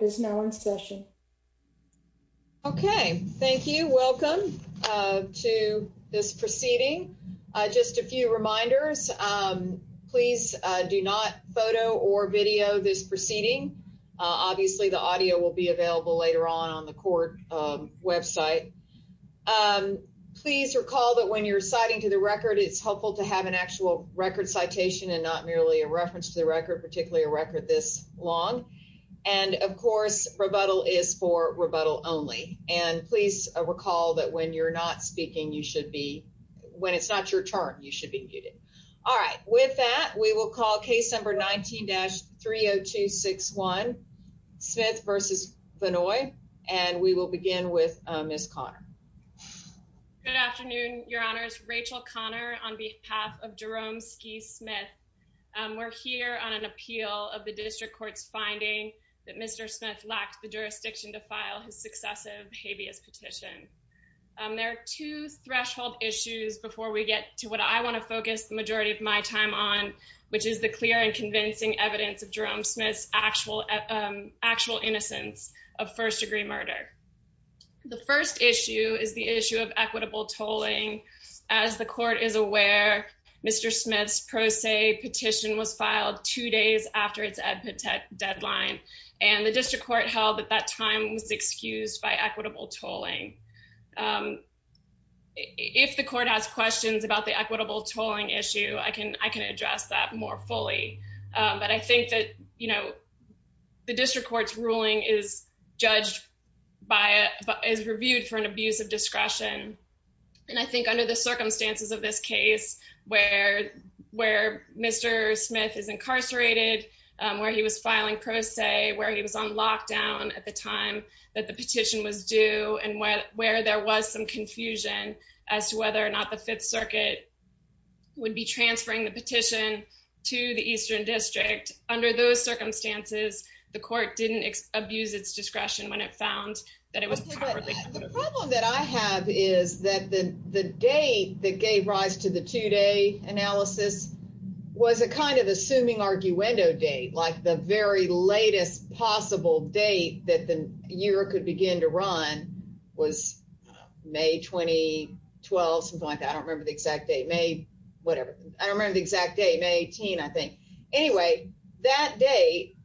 is now in session. Okay, thank you. Welcome to this proceeding. Just a few reminders. Please do not photo or video this proceeding. Obviously, the audio will be available later on on the court website. Please recall that when you're citing to the record, it's helpful to have an actual record citation and not merely a reference to the record, particularly a record this long. And of course, rebuttal is for rebuttal only. And please recall that when you're not speaking, you should be when it's not your turn, you should be muted. All right. With that, we will call case number 19 dash 30261 Smith versus Vannoy. And we will begin with Miss Connor. Good afternoon, Your Honors. Rachel Connor on behalf of Jerome ski Smith. We're here on an appeal of the district court's finding that Mr. Smith lacked the jurisdiction to file his successive habeas petition. There are two threshold issues before we get to what I want to focus the majority of my time on, which is the clear and convincing evidence of Jerome Smith's actual actual innocence of first degree murder. The first issue is the issue of equitable tolling. As the court is aware, Mr. Smith's pro se petition was filed two days after its epic deadline, and the district court held at that time was excused by equitable tolling. If the court has questions about the equitable tolling issue, I can I can address that more fully. But I think that, you know, the district court's ruling is judged by is reviewed for an abuse of discretion. And I think under the circumstances of this case, where where Mr. Smith is incarcerated, where he was filing pro se, where he was on lockdown at the time that the petition was due and where there was some confusion as to whether or not the Fifth Circuit would be transferring the petition to the Eastern District. Under those circumstances, I found that it was. The problem that I have is that the date that gave rise to the two day analysis was a kind of assuming arguendo date, like the very latest possible date that the year could begin to run was May 2012, something like that. I don't remember the exact date, May whatever. I don't remember the exact date, May 18, I think. Anyway, that date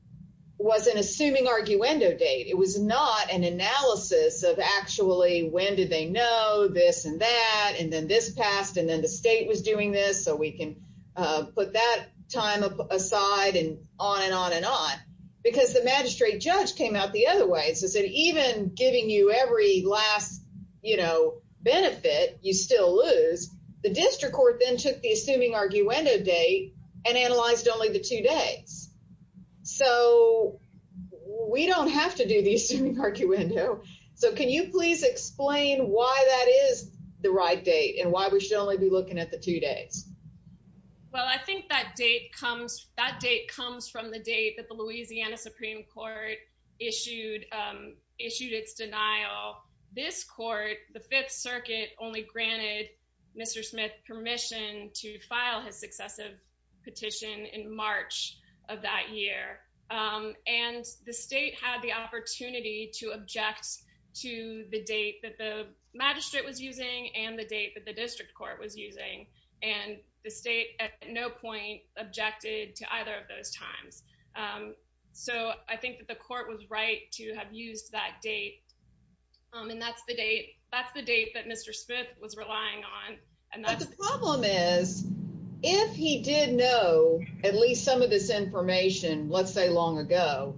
was an assuming arguendo date. It was not an analysis of actually when did they know this and that and then this passed and then the state was doing this. So we can put that time aside and on and on and on because the magistrate judge came out the other way. So is it even giving you every last, you know, benefit you still lose? The district court then took the two days. So we don't have to do the assuming arguendo. So can you please explain why that is the right date and why we should only be looking at the two days? Well, I think that date comes, that date comes from the date that the Louisiana Supreme Court issued, issued its denial. This court, the Fifth Circuit only granted Mr. Smith permission to file his successive petition in March of that year and the state had the opportunity to object to the date that the magistrate was using and the date that the district court was using and the state at no point objected to either of those times. So I think that the court was right to have used that date and that's the date, that's the date that Mr. Smith was relying on. But the problem is if he did know at least some of this information, let's say long ago,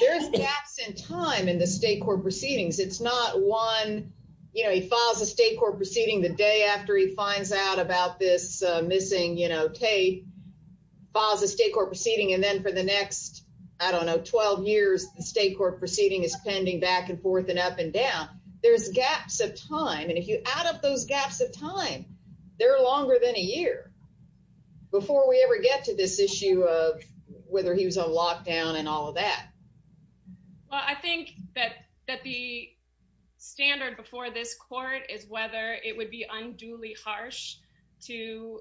there's gaps in time in the state court proceedings. It's not one, you know, he files a state court proceeding the day after he finds out about this missing, you know, tape, files a state court proceeding and then for the next, I don't know, 12 years the state court proceeding is pending back and forth and up and down. There's gaps of time and if you add up those gaps of time, they're longer than a year before we ever get to this issue of whether he was on lockdown and all of that. Well, I think that the standard before this court is whether it would be unduly harsh to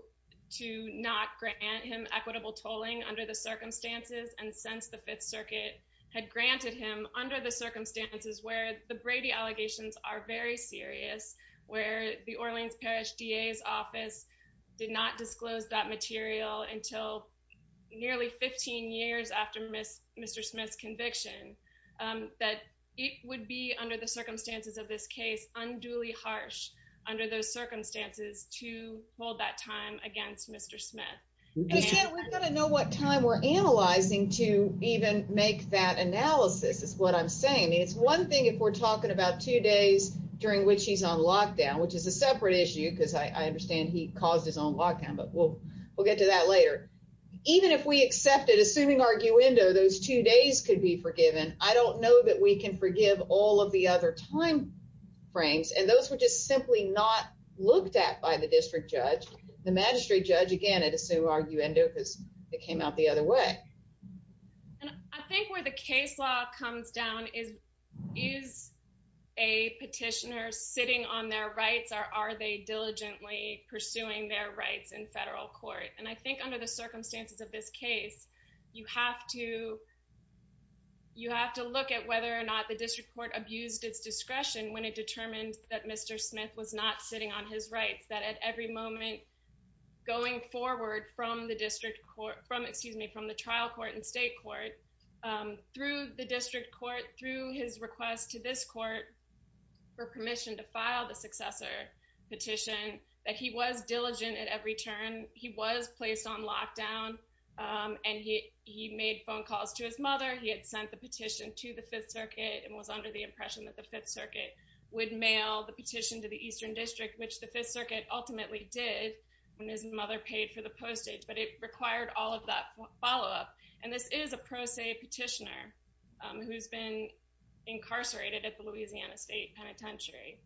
not grant him equitable tolling under the circumstances and since the Fifth Circuit had granted him under the circumstances where the Brady allegations are very serious, where the Orleans Parish DA's office did not disclose that material until nearly 15 years after Mr. Smith's conviction, that it would be under the circumstances of this case unduly harsh under those circumstances to hold that time against Mr. Smith. We've got to know what time we're analyzing to even make that analysis is what I'm saying. It's one thing if we're talking about two days during which he's on lockdown, which is a separate issue because I understand he caused his own lockdown, but we'll get to that later. Even if we accepted, assuming arguendo, those two days could be forgiven, I don't know that we can forgive all of the other time frames and those were just simply not looked at by the district judge. The magistrate judge, again, I'd assume arguendo because it came out the other way. And I think where the case law comes down is, is a petitioner sitting on their rights or are they diligently pursuing their rights in federal court? And I think under the circumstances of this case, you have to, you have to look at whether or not the district court abused its discretion when it determined that Mr. Smith was not sitting on his rights, that at every moment going forward from the district court, from, excuse me, from the trial court and state court, through the district court, through his request to this court for permission to file the successor petition, that he was diligent at every turn. He was placed on lockdown and he, he made phone calls to his mother. He had sent the petition to the fifth circuit and was under the impression that the fifth circuit would mail the petition to the Eastern district, which the fifth circuit ultimately did when his mother paid for the postage, but it required all of that follow-up. And this is a pro se petitioner who's been incarcerated at the Louisiana State Penitentiary.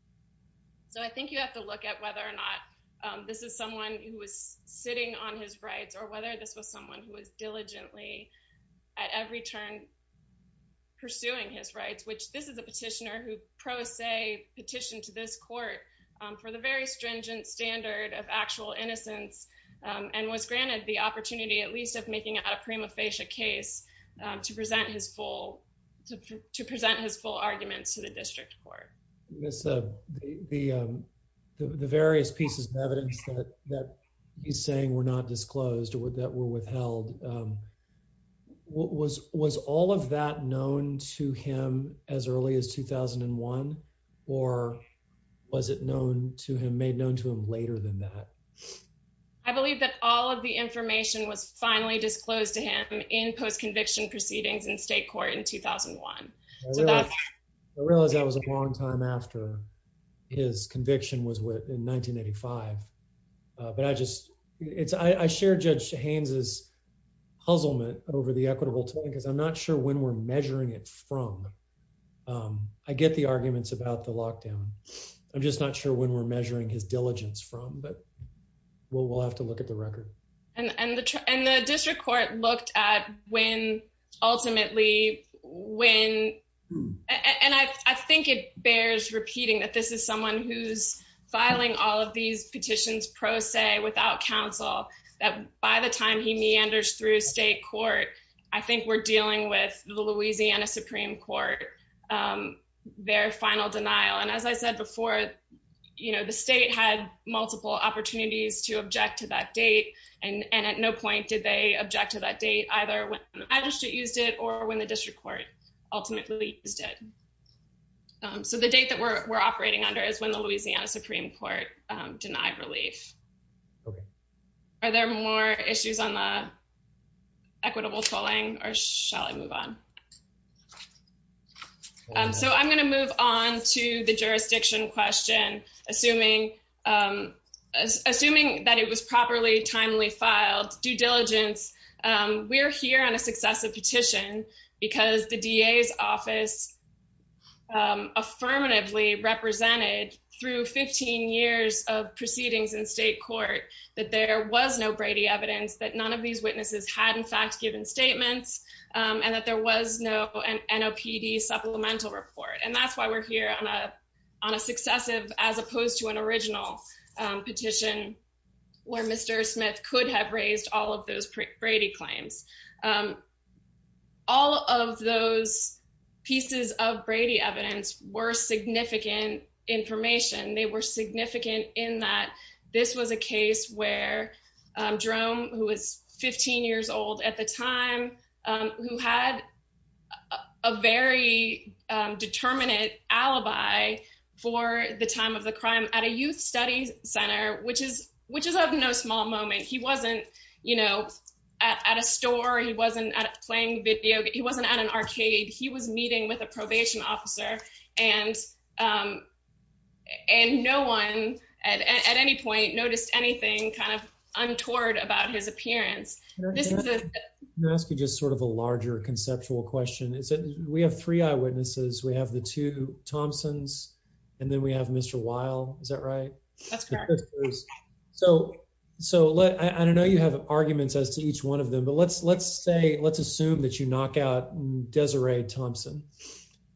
So I think you have to look at whether or not this is someone who was sitting on his rights or whether this was someone who was diligently at every turn pursuing his rights, which this is a petitioner who pro se petitioned to this court for the very stringent standard of actual innocence and was granted the opportunity at least of making out a prima facie case to present his full, to present his full arguments to the district court. Miss, the various pieces of evidence that he's saying were not disclosed or that were withheld, um, what was, was all of that known to him as early as 2001 or was it known to him, made known to him later than that? I believe that all of the information was finally disclosed to him in post-conviction proceedings in state court in 2001. So that's, I realize that was a long time after his conviction was in 1985. But I just, it's, I share Judge Haynes' puzzlement over the equitable time because I'm not sure when we're measuring it from. Um, I get the arguments about the lockdown. I'm just not sure when we're measuring his diligence from, but we'll, we'll have to look at the record. And, and the, and the district court looked at when ultimately, when, and I, I think it bears repeating that this is someone who's filing all of these petitions pro se without counsel that by the time he meanders through state court, I think we're dealing with the Louisiana Supreme Court, um, their final denial. And as I said before, you know, the state had multiple opportunities to object to that date. And, or when the district court ultimately used it. Um, so the date that we're operating under is when the Louisiana Supreme Court, um, denied relief. Okay. Are there more issues on the equitable tolling or shall I move on? Um, so I'm going to move on to the jurisdiction question, assuming, um, assuming that it was properly timely filed due diligence. Um, we're here on a successive petition because the DA's office, um, affirmatively represented through 15 years of proceedings in state court, that there was no Brady evidence that none of these witnesses had in fact given statements, um, and that there was no NOPD supplemental report. And that's why we're here on a, on a successive, as opposed to an original petition where Mr. Smith could have raised all of those Brady claims. Um, all of those pieces of Brady evidence were significant information. They were significant in that this was a case where, um, Jerome, who was 15 years old at the time, um, who had a very, um, determinate alibi for the time of the crime at a youth studies center, which is, which is of no small moment. He wasn't, you know, at, at a store. He wasn't at playing video. He wasn't at an arcade. He was meeting with a probation officer and, um, and no one at, at any point noticed anything kind of untoward about his appearance. Can I ask you just sort of a larger conceptual question? Is it, we have three eyewitnesses. We have the two Thompsons and then we have Mr. Weil. Is that right? That's correct. So, so let, I don't know, you have arguments as to each one of them, but let's, let's say, let's assume that you knock out Desiree Thompson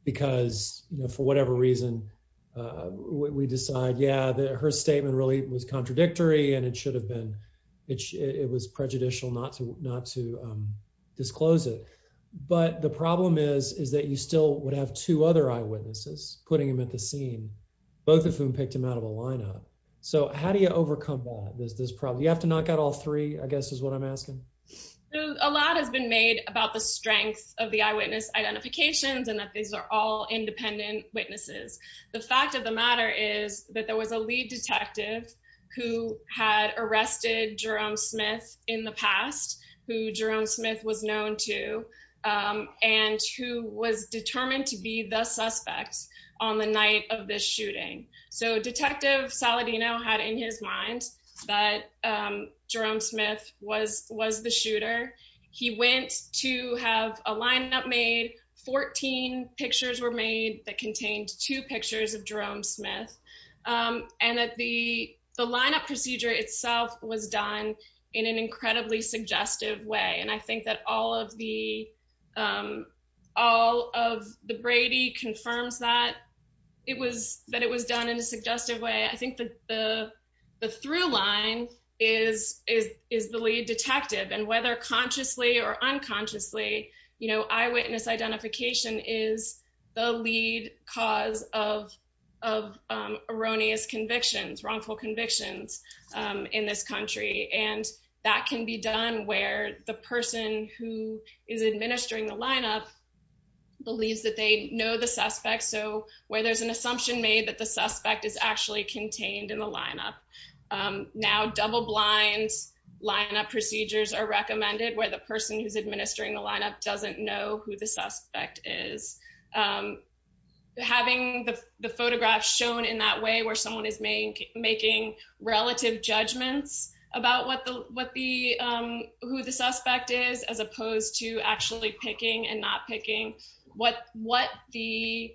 because, you know, for whatever reason, uh, we decide, yeah, that her statement really was contradictory and it should have been, it should, it was prejudicial not to, not to, um, disclose it. But the problem is, is that you still would have two other eyewitnesses putting him at the scene, both of whom picked him out of a lineup. So how do you overcome that? There's this problem. You have to knock out all three, I guess is what I'm asking. A lot has been made about the strength of the eyewitness identifications and that these are all independent witnesses. The fact of the matter is that there was a lead detective who had arrested Jerome Smith in the past, who Jerome Smith was known to, and who was determined to be the suspect on the night of this shooting. So detective Saladino had in his mind that, um, Jerome Smith was, was the shooter. He went to have a lineup made, 14 pictures were made that contained two pictures of Jerome Smith. Um, and that the, the lineup procedure itself was done in an incredibly suggestive way. And I think that all of the, um, all of the Brady confirms that it was, that it was done in a suggestive way. I think the, the, the through line is, is, is the lead detective and whether consciously or unconsciously, you know, eyewitness identification is the lead cause of, of, um, erroneous convictions, wrongful convictions, um, in this country. And that can be done where the person who is administering the lineup believes that they know the suspect. So where there's an assumption made that the suspect is actually contained in the lineup. Um, now double blinds lineup procedures are recommended where the person who's administering the lineup doesn't know who the suspect is. Um, having the photographs shown in that way, where someone is making relative judgments about what the, what the, um, who the suspect is, as opposed to actually picking and what the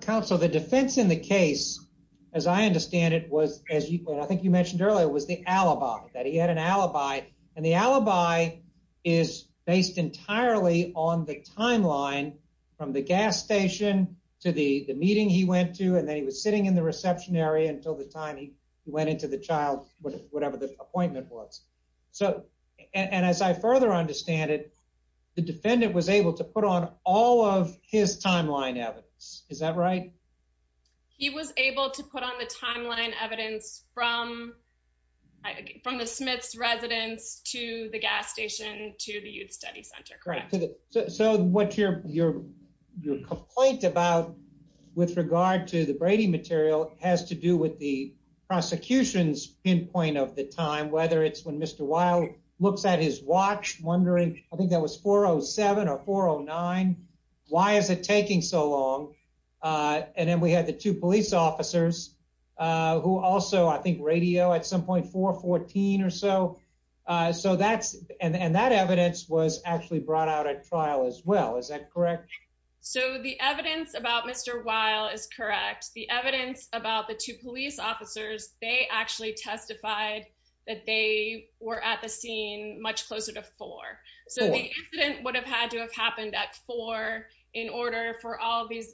council, the defense in the case, as I understand it was, as I think you mentioned earlier, it was the alibi that he had an alibi and the alibi is based entirely on the timeline from the gas station to the meeting he went to. And then he was sitting in the reception area until the time he went into the child, whatever the appointment was. So, and as I further understand it, the defendant was able to put on all of his timeline evidence. Is that right? He was able to put on the timeline evidence from, from the Smith's residence to the gas station, to the youth study center, correct? So what's your, your, your complaint about with regard to the Brady material has to do with the prosecution's pinpoint of the time, whether it's when Mr. Weill looks at his watch wondering, I think that was 4 0 7 or 4 0 9. Why is it taking so long? Uh, and then we had the two police officers, uh, who also, I think radio at some point 4 14 or so. Uh, so that's, and that evidence was actually brought out at trial as well. Is that correct? So the evidence about Mr. Weill is correct. The evidence about the two police officers, they actually testified that they were at the scene much closer to four. So the incident would have had to have happened at four in order for all of these,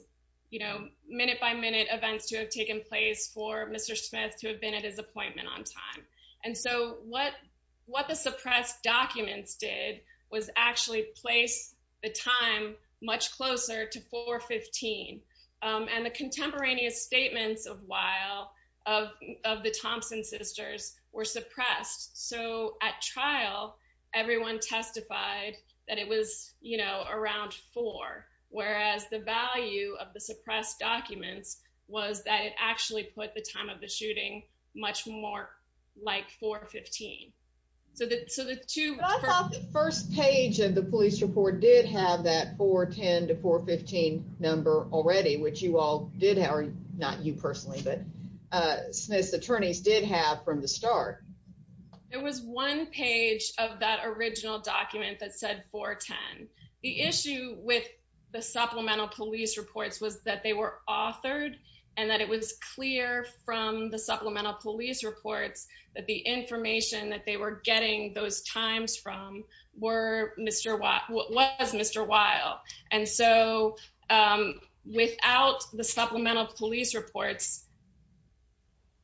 you know, minute by minute events to have taken place for Mr. Smith to have been at his appointment on time. And so what, what the suppressed documents did was actually place the time much closer to 4 15. Um, and the contemporaneous statements of Weill, of, of the Thompson sisters were suppressed. So at trial, everyone testified that it was, you know, around four, whereas the value of the suppressed documents was that it actually put the time of the shooting much more like 4 15. So the, so the two first page of the police report did have that 4 10 to 4 15 number already, which you all did, or not you personally, but, uh, Smith's attorneys did have from the start. There was one page of that original document that said 4 10. The issue with the supplemental police reports was that they were authored and that it was clear from the supplemental police reports that the information that they were getting those times from were Mr. What was Mr. Weill. And so, um, without the supplemental police reports,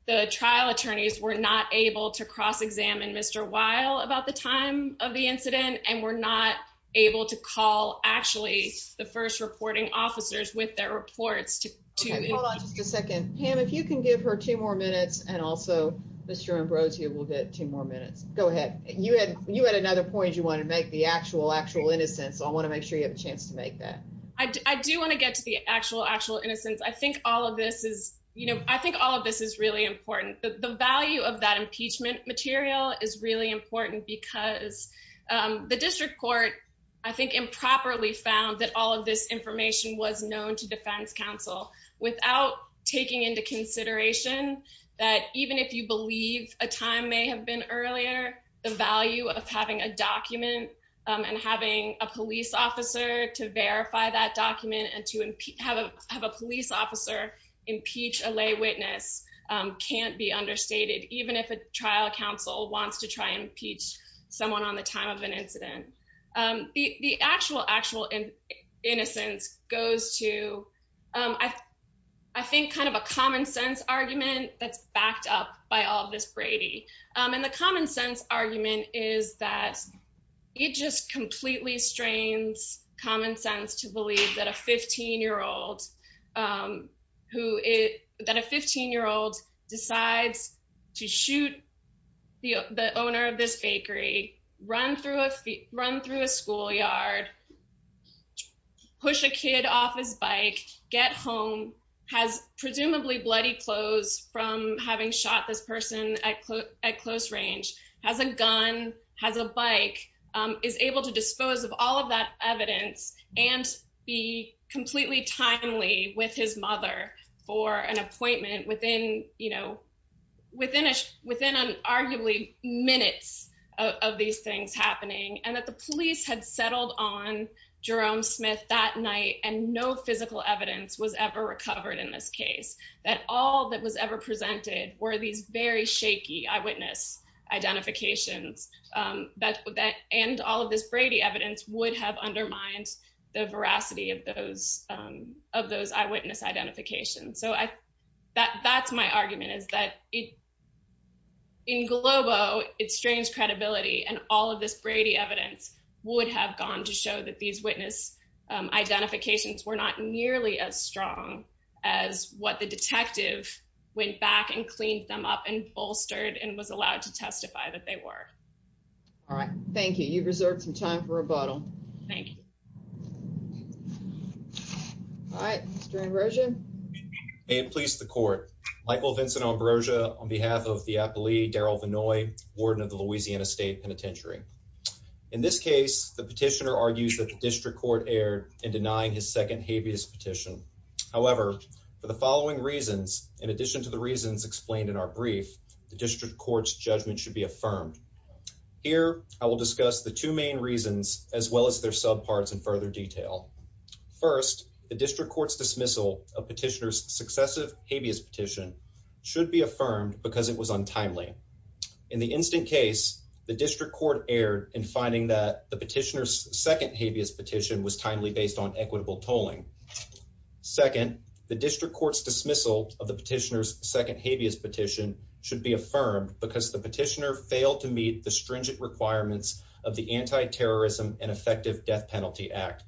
the trial attorneys were not able to cross examine Mr. Weill about the time of the incident and were not able to call actually the first reporting officers with their reports to hold on just a second. Pam, if you can give her two more minutes and also Mr. Ambrosio will get two more minutes. Go ahead. You had you had another point. You want to make the actual actual innocence. I want to make sure you have a chance to make that. I do want to get to the actual actual innocence. I think all of this is, you know, I think all of this is really important. The value of that impeachment material is really important because, um, the district court, I think, improperly found that all of this information was known to defense counsel without taking into consideration that even if you believe a time may have been earlier, the value of having a document and having a police officer to verify that document and to have a police officer impeach a lay witness can't be understated, even if a trial counsel wants to I think kind of a common sense argument that's backed up by all of this Brady. And the common sense argument is that it just completely strains common sense to believe that a 15 year old, um, who is that a 15 year old decides to shoot the owner of this bakery, run through a run through a schoolyard, push a kid off his bike, get home, has presumably bloody clothes from having shot this person at close range, has a gun, has a bike, um, is able to dispose of all of that evidence and be completely timely with his mother for an happening and that the police had settled on Jerome Smith that night and no physical evidence was ever recovered in this case, that all that was ever presented were these very shaky eyewitness identifications, um, that, that, and all of this Brady evidence would have undermined the veracity of those, um, of those eyewitness identification. So I, that, that's my argument is that it, in Globo, it strains credibility and all of this Brady evidence would have gone to show that these witness, um, identifications were not nearly as strong as what the detective went back and cleaned them up and bolstered and was allowed to testify that they were. All right. Thank you. You've reserved some time for rebuttal. Thank you. All right. Mr. Ambrosia. May it please the court. Michael Vincent Ambrosia on behalf of the appellee, Daryl Vinoy, warden of the Louisiana state penitentiary. In this case, the petitioner argues that the district court erred in denying his second habeas petition. However, for the following reasons, in addition to the reasons explained in our brief, the district court's judgment should be affirmed. Here, I will discuss the two main reasons as well as their subparts further detail. First, the district court's dismissal of petitioner's successive habeas petition should be affirmed because it was untimely. In the instant case, the district court erred in finding that the petitioner's second habeas petition was timely based on equitable tolling. Second, the district court's dismissal of the petitioner's second habeas petition should be affirmed because the petitioner failed to meet the stringent requirements of the Anti-terrorism and Effective Death Penalty Act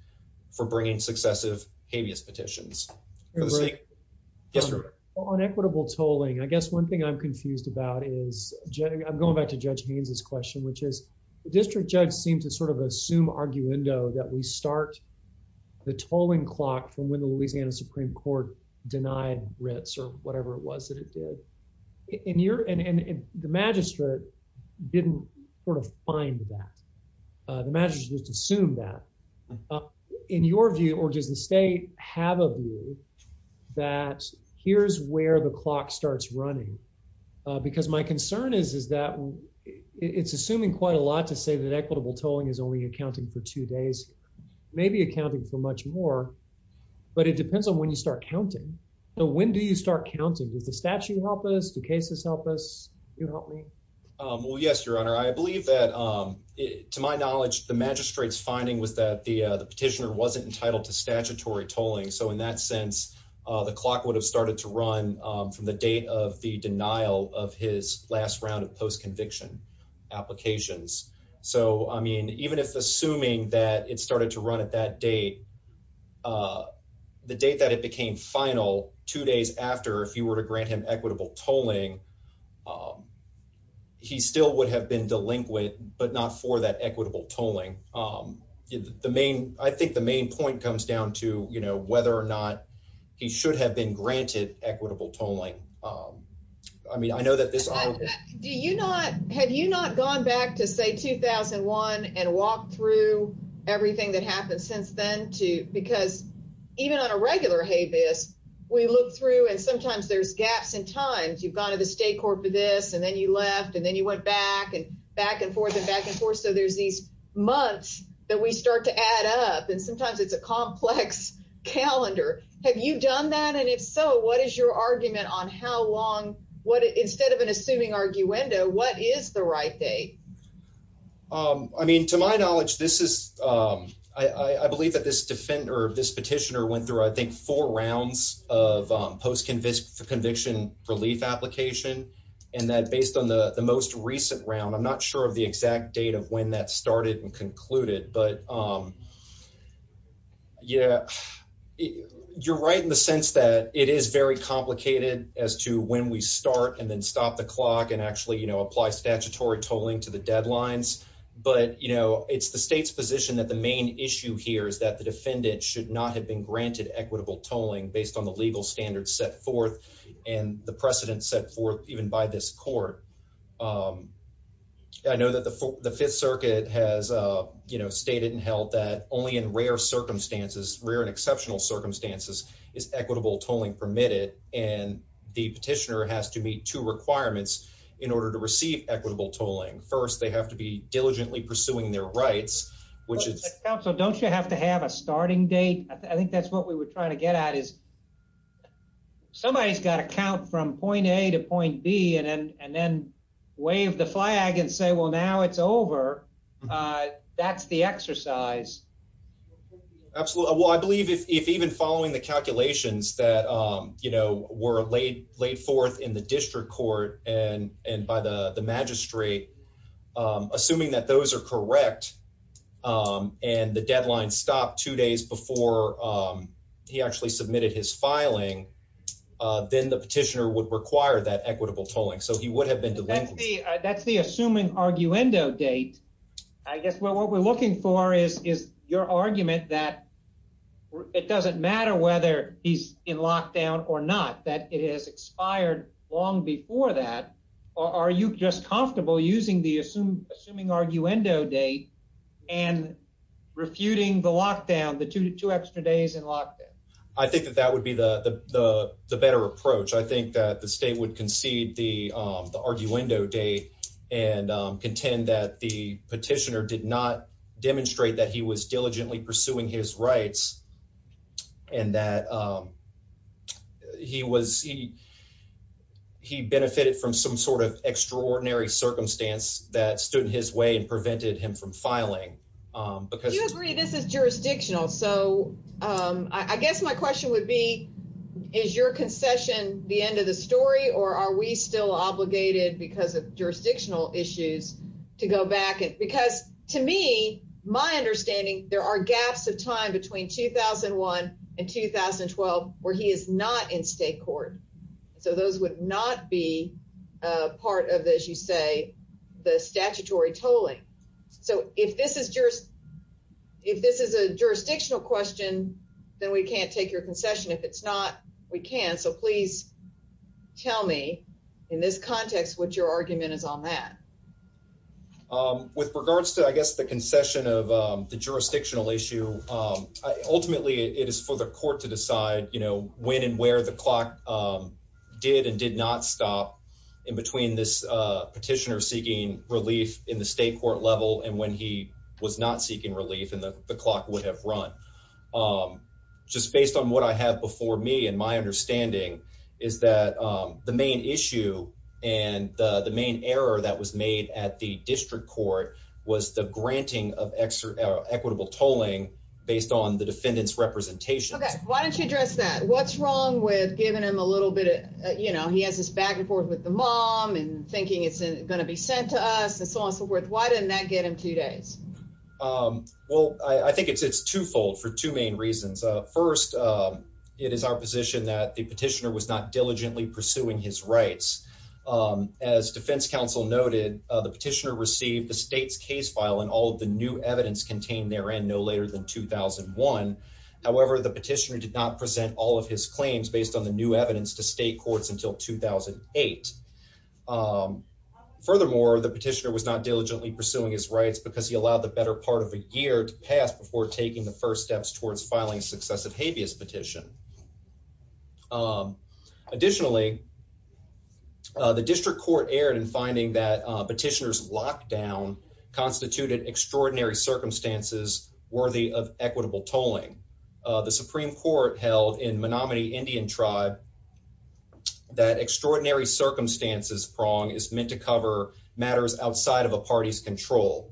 for bringing successive habeas petitions. On equitable tolling, I guess one thing I'm confused about is I'm going back to Judge Haynes's question, which is the district judge seemed to sort of assume arguendo that we start the tolling clock from when the Louisiana Supreme Court denied writs or whatever it was it did. And the magistrate didn't sort of find that. The magistrate just assumed that. In your view, or does the state have a view that here's where the clock starts running? Because my concern is that it's assuming quite a lot to say that equitable tolling is only accounting for two days, maybe accounting for much more, but it depends on when you start counting. When do you start counting? Does the statute help us? Do cases help us? You help me? Well, yes, your honor. I believe that to my knowledge, the magistrate's finding was that the petitioner wasn't entitled to statutory tolling. So in that sense, the clock would have started to run from the date of the denial of his last round of post conviction applications. So, I mean, even if assuming that it started to run at that date, uh, the date that it became final, two days after, if you were to grant him equitable tolling, he still would have been delinquent, but not for that equitable tolling. Um, the main, I think the main point comes down to, you know, whether or not he should have been granted equitable tolling. Um, I mean, I know that this, do you not, had you not gone back to say 2001 and walk through everything that happened since then because even on a regular habeas, we look through and sometimes there's gaps in times you've gone to the state court for this and then you left and then you went back and back and forth and back and forth. So there's these months that we start to add up and sometimes it's a complex calendar. Have you done that? And if so, what is your argument on how long, what, instead of an assuming arguendo, what is the right date? Um, I mean, to my knowledge, this is, um, I, I believe that this defender, this petitioner went through, I think, four rounds of, um, post-convict conviction relief application. And that based on the most recent round, I'm not sure of the exact date of when that started and concluded, but, um, yeah, you're right in the sense that it is very complicated as to when we start and then stop the clock and actually, you know, apply statutory tolling to the deadlines. But, you know, it's the state's position that the main issue here is that the defendant should not have been granted equitable tolling based on the legal standards set forth and the precedent set forth even by this court. Um, I know that the fifth circuit has, uh, you know, stated and held that only in rare circumstances, rare and exceptional circumstances is equitable tolling permitted. And the petitioner has to meet two requirements in order to receive equitable tolling. First, they have to be which is, so don't you have to have a starting date? I think that's what we were trying to get at is somebody's got to count from point A to point B and then, and then wave the flag and say, well, now it's over. Uh, that's the exercise. Absolutely. Well, I believe if, if even following the calculations that, um, you know, were laid, laid forth in the district court and, and by the, the magistrate, um, assuming that those are correct, um, and the deadline stopped two days before, um, he actually submitted his filing. Uh, then the petitioner would require that equitable tolling. So he would have been delayed. That's the assuming arguendo date. I guess, well, what we're looking for is, is your argument that it doesn't matter whether he's in comfortable using the assume, assuming arguendo date and refuting the lockdown, the two to two extra days in lockdown. I think that that would be the, the, the, the better approach. I think that the state would concede the, um, the arguendo day and, um, contend that the petitioner did not demonstrate that he was diligently pursuing his rights and that, um, he was, he, he benefited from some sort of extraordinary circumstance that stood in his way and prevented him from filing. Um, because this is jurisdictional. So, um, I guess my question would be, is your concession the end of the story, or are we still obligated because of jurisdictional issues to go back? And because to me, my understanding, there are gaps of time between 2001 and 2012, where he is not in state court. So those would not be a part of this, you say the statutory tolling. So if this is just, if this is a jurisdictional question, then we can't take your concession. If it's not, we can. So please tell me in this context, what your argument is on that. Um, with regards to, I guess, the concession of, um, the jurisdictional issue, um, ultimately it is for the court to decide, you know, when and where the clock, um, did and did not stop in between this, uh, petitioner seeking relief in the state court level. And when he was not seeking relief in the clock would have run, um, just based on what I have before me and my understanding is that, um, the main issue and the main error that was made at the district court was the granting of equitable tolling based on the defendant's representation. Okay. Why don't you address that? What's wrong with giving him a little bit of, you know, he has this back and forth with the mom and thinking it's going to be sent to us and so on and so forth. Why didn't that get him two days? Um, well, I think it's, it's twofold for two main reasons. Uh, first, um, it is our position that the petitioner was not noted. Uh, the petitioner received the state's case file and all of the new evidence contained there and no later than 2001. However, the petitioner did not present all of his claims based on the new evidence to state courts until 2008. Um, furthermore, the petitioner was not diligently pursuing his rights because he allowed the better part of a year to pass before taking the first steps towards filing successive habeas petition. Um, additionally, uh, the district court erred in finding that petitioners lockdown constituted extraordinary circumstances worthy of equitable tolling. Uh, the Supreme Court held in Menominee Indian tribe that extraordinary circumstances prong is meant to cover matters outside of a party's control.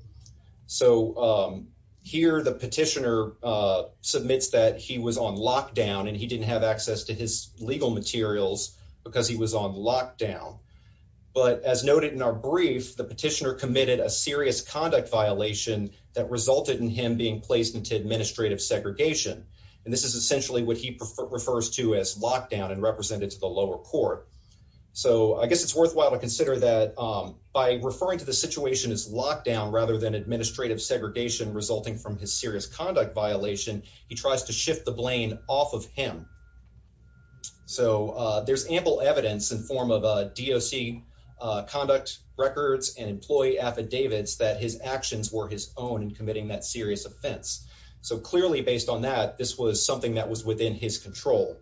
So, um, here the petitioner, uh, submits that he was on lockdown and he didn't have access to his lockdown. But as noted in our brief, the petitioner committed a serious conduct violation that resulted in him being placed into administrative segregation. And this is essentially what he prefers to as lockdown and represented to the lower court. So I guess it's worthwhile to consider that, um, by referring to the situation as lockdown, rather than administrative segregation resulting from his serious conduct violation, he tries to shift the blame off of him. So, uh, there's ample evidence in form of a DOC, uh, conduct records and employee affidavits that his actions were his own in committing that serious offense. So clearly based on that, this was something that was within his control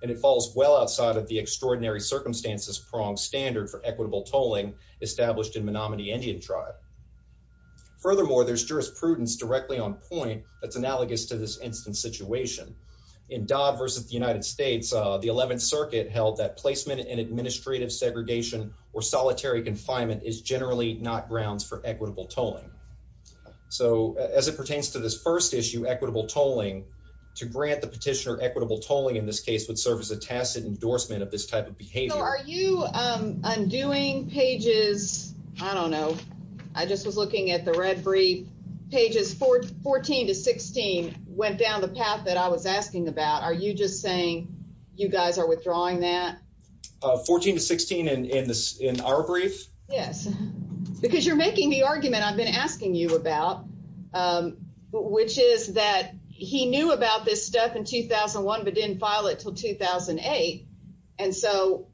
and it falls well outside of the extraordinary circumstances prong standard for equitable tolling established in Menominee Indian tribe. Furthermore, there's jurisprudence directly on point that's analogous to this instance situation in Dodd versus the United States. Uh, the 11th circuit held that placement in administrative segregation or solitary confinement is generally not grounds for equitable tolling. So as it pertains to this first issue, equitable tolling to grant the petitioner equitable tolling in this case would serve as a tacit endorsement of this type of behavior. Are you, um, undoing pages? I don't know. I just was looking at the 14 to 16 went down the path that I was asking about. Are you just saying you guys are withdrawing that 14 to 16 and in this in our brief? Yes, because you're making the argument I've been asking you about, um, which is that he knew about this stuff in 2000 and one, but didn't file it till 2000 and eight. And so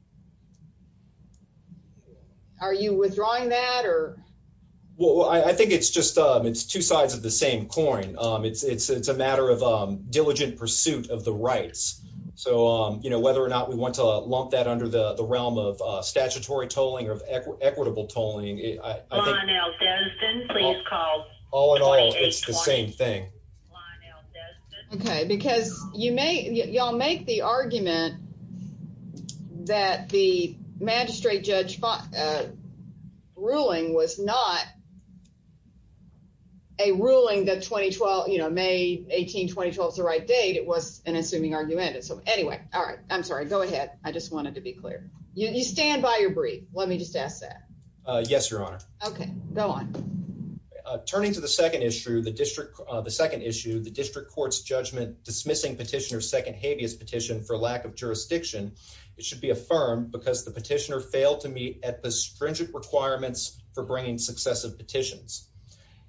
are you withdrawing that or? Well, I think it's just, um, it's two sides of the same coin. Um, it's, it's, it's a matter of, um, diligent pursuit of the rights. So, um, you know, whether or not we want to lump that under the realm of, uh, statutory tolling of equitable tolling. All in all, it's the same thing. Okay. Because you may y'all make the argument that the magistrate judge fought, uh, ruling was not a ruling that 2012, you know, May 18, 2012 is the right date. It was an assuming argument. And so anyway, all right, I'm sorry. Go ahead. I just wanted to be clear. You stand by your brief. Let me just ask that. Uh, yes, Your Honor. Okay, go on. Uh, turning to the second issue, the district, uh, the second issue, the district court's judgment dismissing petitioner's second jurisdiction. It should be affirmed because the petitioner failed to meet at the stringent requirements for bringing successive petitions.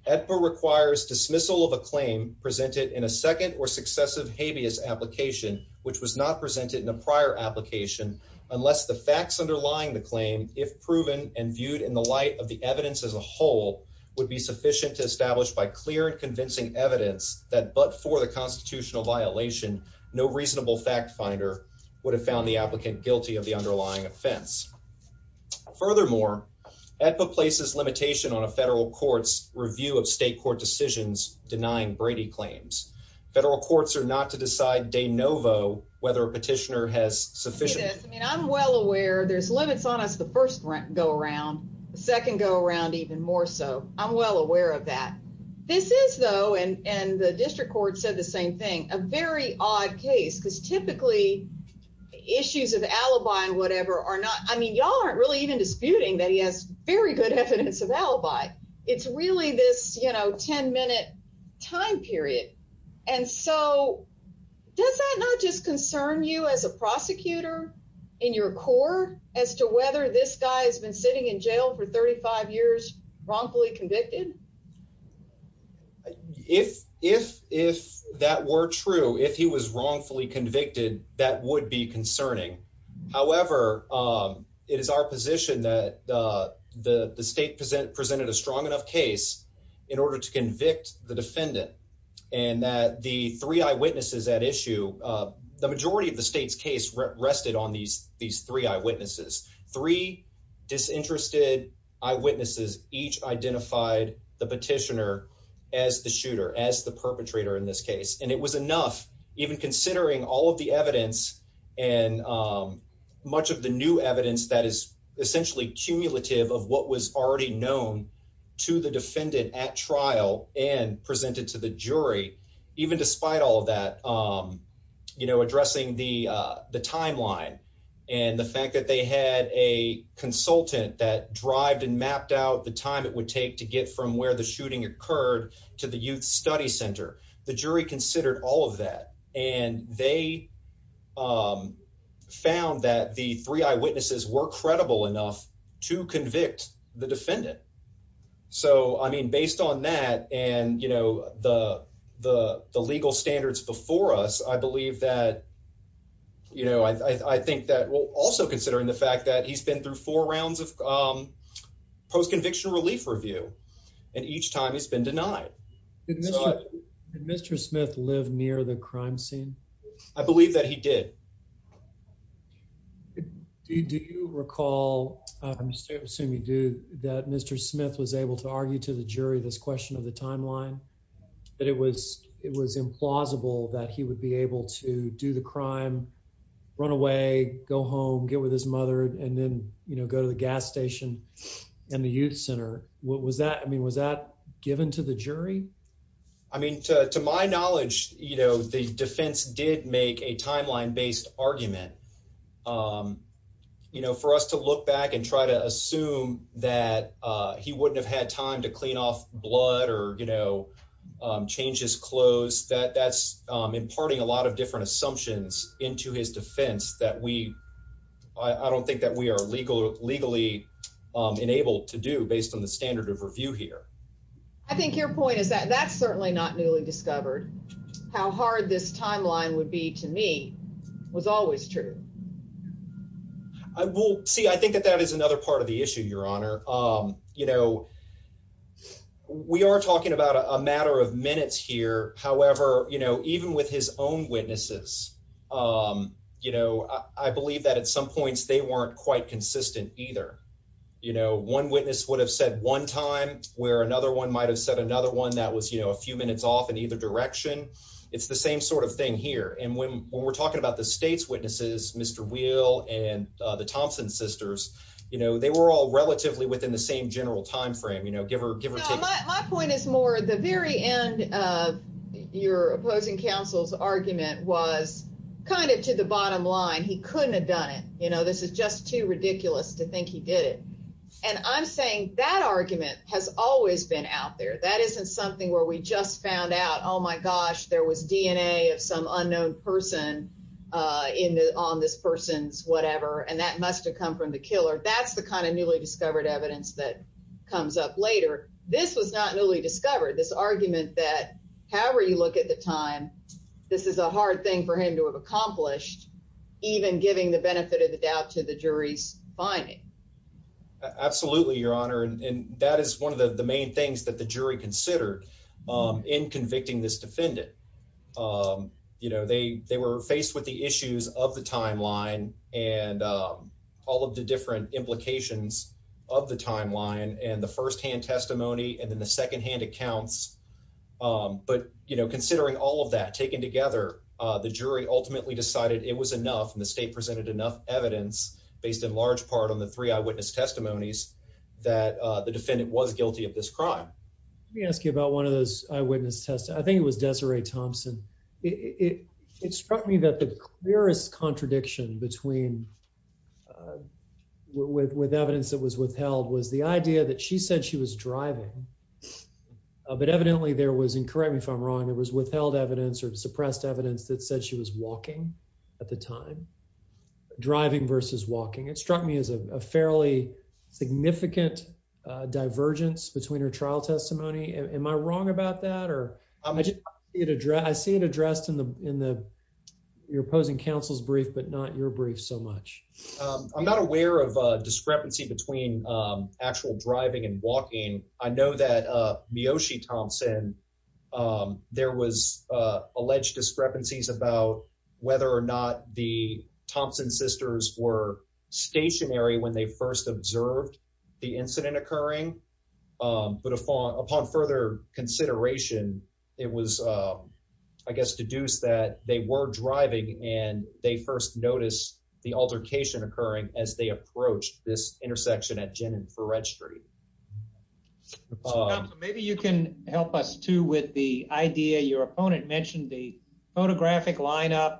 EDPA requires dismissal of a claim presented in a second or successive habeas application, which was not presented in a prior application. Unless the facts underlying the claim, if proven and viewed in the light of the evidence as a whole would be sufficient to establish by clear and convincing evidence that, but for the violation, no reasonable fact finder would have found the applicant guilty of the underlying offense. Furthermore, EDPA places limitation on a federal court's review of state court decisions, denying Brady claims. Federal courts are not to decide de novo, whether a petitioner has sufficient. I mean, I'm well aware there's limits on us. The first rent go around second, go around even more. So I'm well aware of that. This is though. And, and the district court said the same thing, a very odd case because typically issues of alibi and whatever are not, I mean, y'all aren't really even disputing that he has very good evidence of alibi. It's really this, you know, 10 minute time period. And so does that not just concern you as a prosecutor in your core as to whether this guy has been sitting in jail for 35 years, wrongfully convicted? If, if, if that were true, if he was wrongfully convicted, that would be concerning. However, it is our position that the state present presented a strong enough case in order to convict the defendant and that the three eyewitnesses at issue the majority of the state's case rested on these, these three eyewitnesses, three disinterested eyewitnesses, each identified the petitioner as the shooter as the perpetrator in this case. And it was enough even considering all of the evidence and much of the new evidence that is essentially cumulative of what was already known to the defendant at trial and presented to the jury, even despite all of that you know, addressing the the timeline and the fact that they had a consultant that it would take to get from where the shooting occurred to the youth study center. The jury considered all of that and they found that the three eyewitnesses were credible enough to convict the defendant. So, I mean, based on that and, you know, the, the, the legal standards before us, I believe that, you know, I, I think that we'll also considering the fact that he's been denied. Did Mr. Smith live near the crime scene? I believe that he did. Do you recall, I'm assuming you do, that Mr. Smith was able to argue to the jury this question of the timeline, that it was, it was implausible that he would be able to do the crime, run away, go home, get with his mother and then, you know, go to the gas station and the youth center. What was that? I mean, was that given to the jury? I mean, to, to my knowledge, you know, the defense did make a timeline based argument, you know, for us to look back and try to assume that he wouldn't have had time to clean off blood or, you know, change his clothes that that's imparting a into his defense that we, I don't think that we are legal, legally enabled to do based on the standard of review here. I think your point is that that's certainly not newly discovered. How hard this timeline would be to me was always true. I will see. I think that that is another part of the issue, Your Honor. Um, you know, we are talking about a matter of minutes here. However, you know, even with his own witnesses, you know, I believe that at some points they weren't quite consistent either. You know, one witness would have said one time where another one might have said another one that was, you know, a few minutes off in either direction. It's the same sort of thing here. And when, when we're talking about the state's witnesses, Mr. Wheel and the Thompson sisters, you know, they were all relatively within the same general timeframe, you know, give her, give my point is more the very end of your opposing counsel's argument was kind of to the bottom line. He couldn't have done it. You know, this is just too ridiculous to think he did it. And I'm saying that argument has always been out there. That isn't something where we just found out, oh my gosh, there was DNA of some unknown person, uh, in the, on this person's whatever. And that must've come from the killer. That's the kind of newly discovered evidence that comes up later. This was not newly discovered this argument that however you look at the time, this is a hard thing for him to have accomplished even giving the benefit of the doubt to the jury's finding. Absolutely. Your honor. And that is one of the main things that the jury considered in convicting this defendant. Um, you know, they, they were faced with the issues of the timeline and, um, all of the different implications of the timeline and the firsthand testimony, and then the secondhand accounts. Um, but you know, considering all of that taken together, uh, the jury ultimately decided it was enough and the state presented enough evidence based in large part on the three eyewitness testimonies that, uh, the defendant was guilty of this crime. Let me ask you about one of those eyewitness tests. I think it was Desiree Thompson. It struck me that the clearest contradiction between, uh, with, with evidence that was withheld was the idea that she said she was driving, uh, but evidently there was incorrect. If I'm wrong, it was withheld evidence or suppressed evidence that said she was walking at the time driving versus walking. It struck me as a fairly significant, uh, divergence between her trial testimony. Am I wrong about that? Or I just, I see it addressed in the, in the, your opposing counsel's brief, but not your brief so much. Um, I'm not aware of a discrepancy between, um, actual driving and walking. I know that, uh, Miyoshi Thompson, um, there was, uh, alleged discrepancies about whether or not the Thompson sisters were stationary when they first observed the incident occurring. Um, but upon, upon further consideration, it was, um, I guess, deduce that they were driving and they first noticed the altercation occurring as they approached this intersection at Jennings for registry. Maybe you can help us too with the idea. Your opponent mentioned the photographic lineup.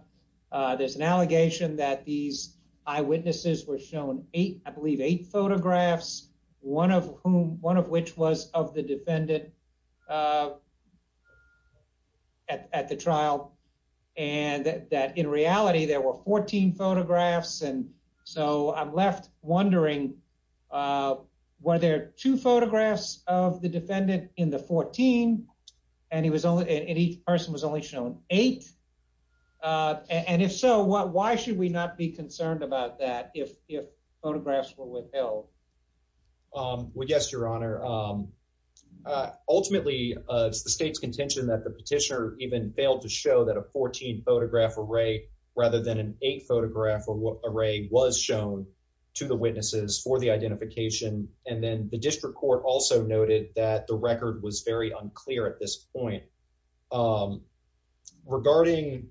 Uh, there's an allegation that these eyewitnesses were shown eight, I believe eight photographs, one of whom, one of which was of the defendant, uh, at, at the trial. And that in reality, there were 14 photographs. And so I'm left wondering, uh, were there two photographs of the defendant in the 14 and he was only in each person was only shown eight. Uh, and if so, what, why should we not be concerned about that? If, if photographs were withheld? Um, well, yes, your honor. Um, uh, ultimately, uh, it's the state's contention that the petitioner even failed to show that a 14 photograph array rather than an eight photograph array was shown to the witnesses for the identification. And then the district also noted that the record was very unclear at this point. Um, regarding,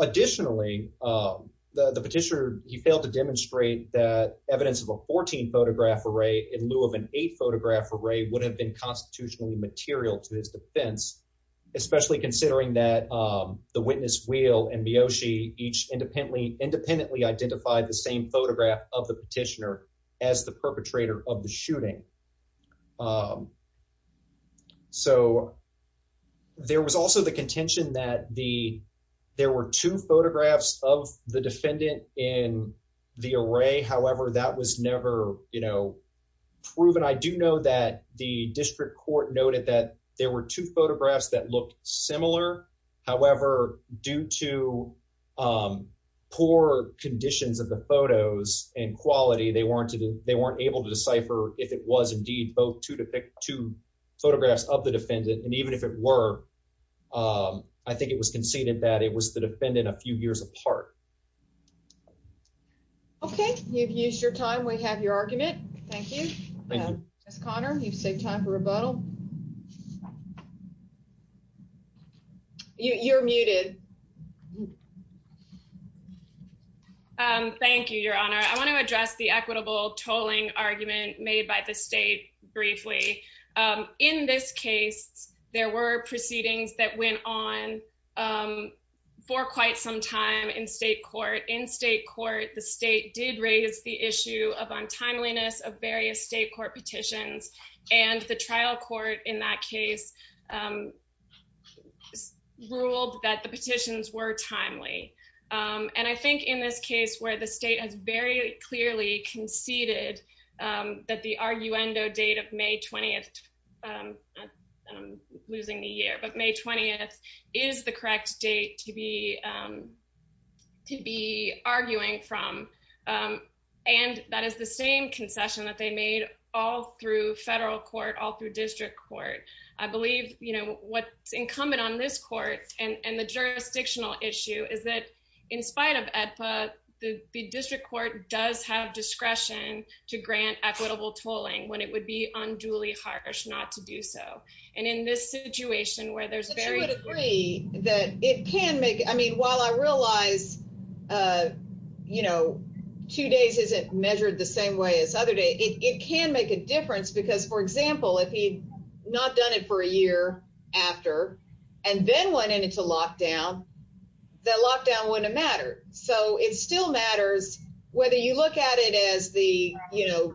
additionally, um, the, the petitioner, he failed to demonstrate that evidence of a 14 photograph array in lieu of an eight photograph array would have been constitutionally material to his defense, especially considering that, um, the witness wheel and Miyoshi each independently independently identified the same photograph of the petitioner as the perpetrator of the shooting. Um, so there was also the contention that the, there were two photographs of the defendant in the array. However, that was never, you know, proven. I do know that the district court noted that there were two photographs that looked similar. However, due to, um, poor conditions of the photos and quality, they weren't, they weren't able to decipher if it was indeed both to depict two photographs of the defendant. And even if it were, um, I think it was conceded that it was the defendant a few years apart. Okay. You've used your time. We have your argument. Thank you. Yes. Connor, you've saved time for rebuttal. You're muted. Um, thank you, your honor. I want to address the equitable tolling argument made by the state briefly. Um, in this case, there were proceedings that went on, um, for quite some time in state court. The state did raise the issue of untimeliness of various state court petitions and the trial court in that case, um, ruled that the petitions were timely. Um, and I think in this case where the state has very clearly conceded, um, that the arguendo date of May 20th, I'm losing the year, but May 20th is the correct date to be, um, to be arguing from. Um, and that is the same concession that they made all through federal court, all through district court. I believe, you know, what's incumbent on this court and the jurisdictional issue is that in spite of AEDPA, the district court does have discretion to grant equitable tolling when it would be unduly harsh not to do so. And in this situation where there's very agree that it can make, I mean, while I realize, uh, you know, two days isn't measured the same way as other day, it can make a difference because for example, if he'd not done it for a year after and then went into lockdown, that lockdown wouldn't matter. So it still matters whether you look at it as the, you know,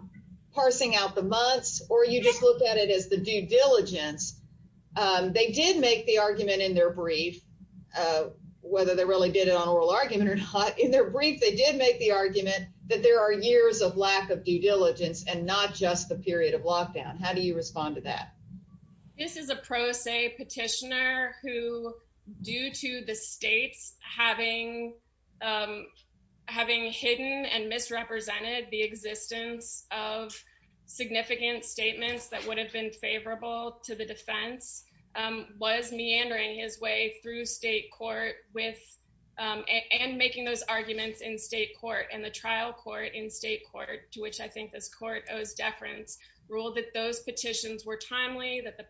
parsing out the months, or you just look at it as the due diligence. Um, they did make the argument in their brief, uh, whether they really did it on oral argument or not in their brief, they did make the argument that there are years of lack of due diligence and not just the period of lockdown. How do you respond to that? This is a pro se petitioner who due to the states having, um, having hidden and misrepresented the existence of significant statements that would have been favorable to the defense, um, was meandering his way through state court with, um, and making those arguments in state court and the trial court in state court, to which I think this court owes deference, ruled that those petitions were timely, that the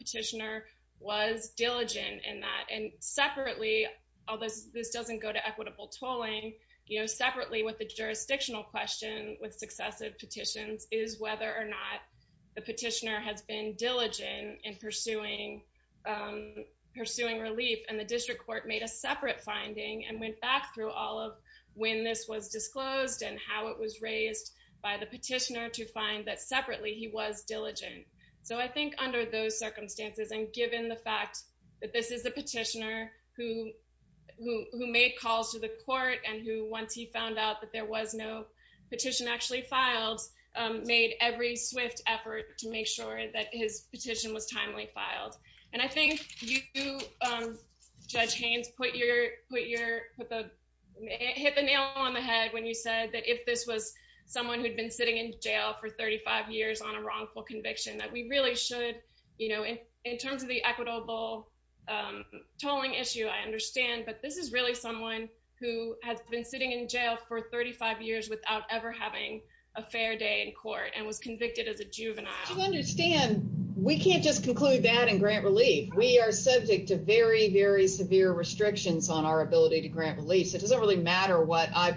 separately, although this doesn't go to equitable tolling, you know, separately with the jurisdictional question with successive petitions is whether or not the petitioner has been diligent in pursuing, um, pursuing relief. And the district court made a separate finding and went back through all of when this was disclosed and how it was raised by the petitioner to find that separately he was diligent. So I think under those circumstances and given the fact that this is a petitioner who, who, who made calls to the court and who, once he found out that there was no petition actually filed, um, made every swift effort to make sure that his petition was timely filed. And I think you, um, Judge Haynes put your, put your, put the, hit the nail on the head when you said that if this was someone who'd been sitting in jail for 35 years on a wrongful conviction, that we really should, you know, in, in terms of the equitable, um, tolling issue, I understand, but this is really someone who has been sitting in jail for 35 years without ever having a fair day in court and was convicted as a juvenile. To understand, we can't just conclude that and grant relief. We are subject to very, very severe restrictions on our ability to grant relief. So it doesn't really matter what I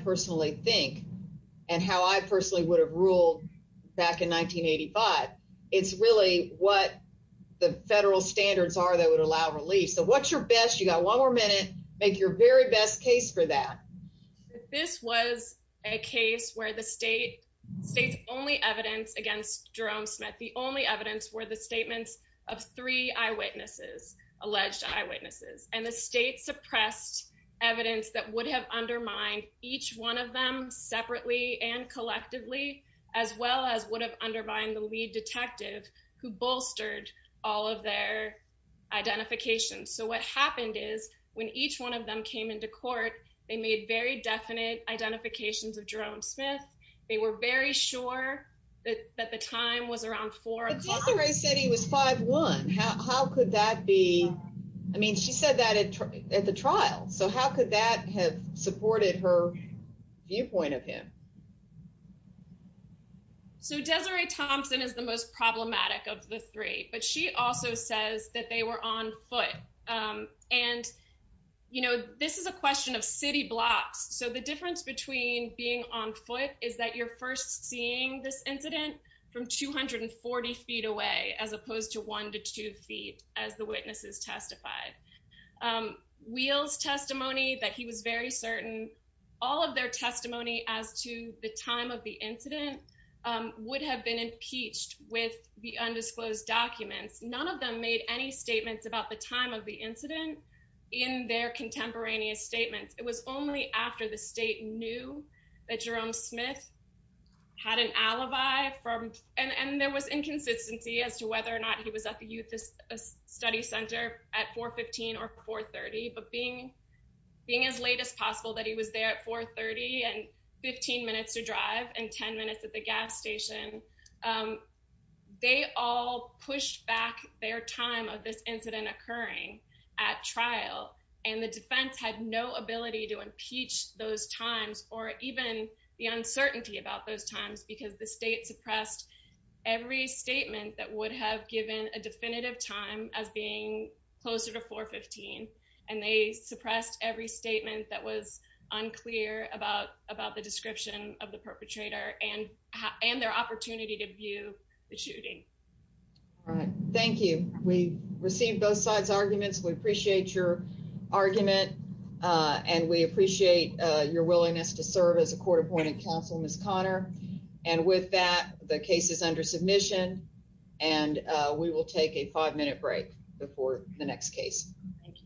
It's really what the federal standards are that would allow relief. So what's your best, you got one more minute, make your very best case for that. This was a case where the state state's only evidence against Jerome Smith. The only evidence were the statements of three eyewitnesses, alleged eyewitnesses, and the state suppressed evidence that would have undermined each one of them separately and collectively, as well as would have undermined the lead detective who bolstered all of their identifications. So what happened is when each one of them came into court, they made very definite identifications of Jerome Smith. They were very sure that, that the time was around four o'clock. Tesserae said he was five one. How, how could that be? I mean, she said that at, at the trial. So how could that have supported her viewpoint of him? So Tesserae Thompson is the most problematic of the three, but she also says that they were on foot. And, you know, this is a question of city blocks. So the difference between being on foot is that you're first seeing this incident from 240 feet away, as opposed to one to two feet, as the witnesses testified. Wheel's testimony that he was very certain all of their testimony as to the time of the incident would have been impeached with the undisclosed documents. None of them made any statements about the time of the incident in their contemporaneous statements. It was only after the state knew that Jerome Smith had an alibi from, and there was inconsistency as to whether or not he was at the youth study center at 415 or 430, but being, being as late as possible that he was there at 430 and 15 minutes to drive and 10 minutes at the gas station, they all pushed back their time of this incident occurring at trial. And the defense had no ability to impeach those times or even the uncertainty about those times, because the state suppressed every statement that would have given a definitive time as being closer to 415. And they suppressed every statement that was unclear about, about the description of the perpetrator and, and their opportunity to view the shooting. All right. Thank you. We received both sides arguments. We appreciate your argument and we appreciate your willingness to serve as a court appointed counsel, Ms. Connor. And with that, the case is under submission and we will take a five minute break before the next case.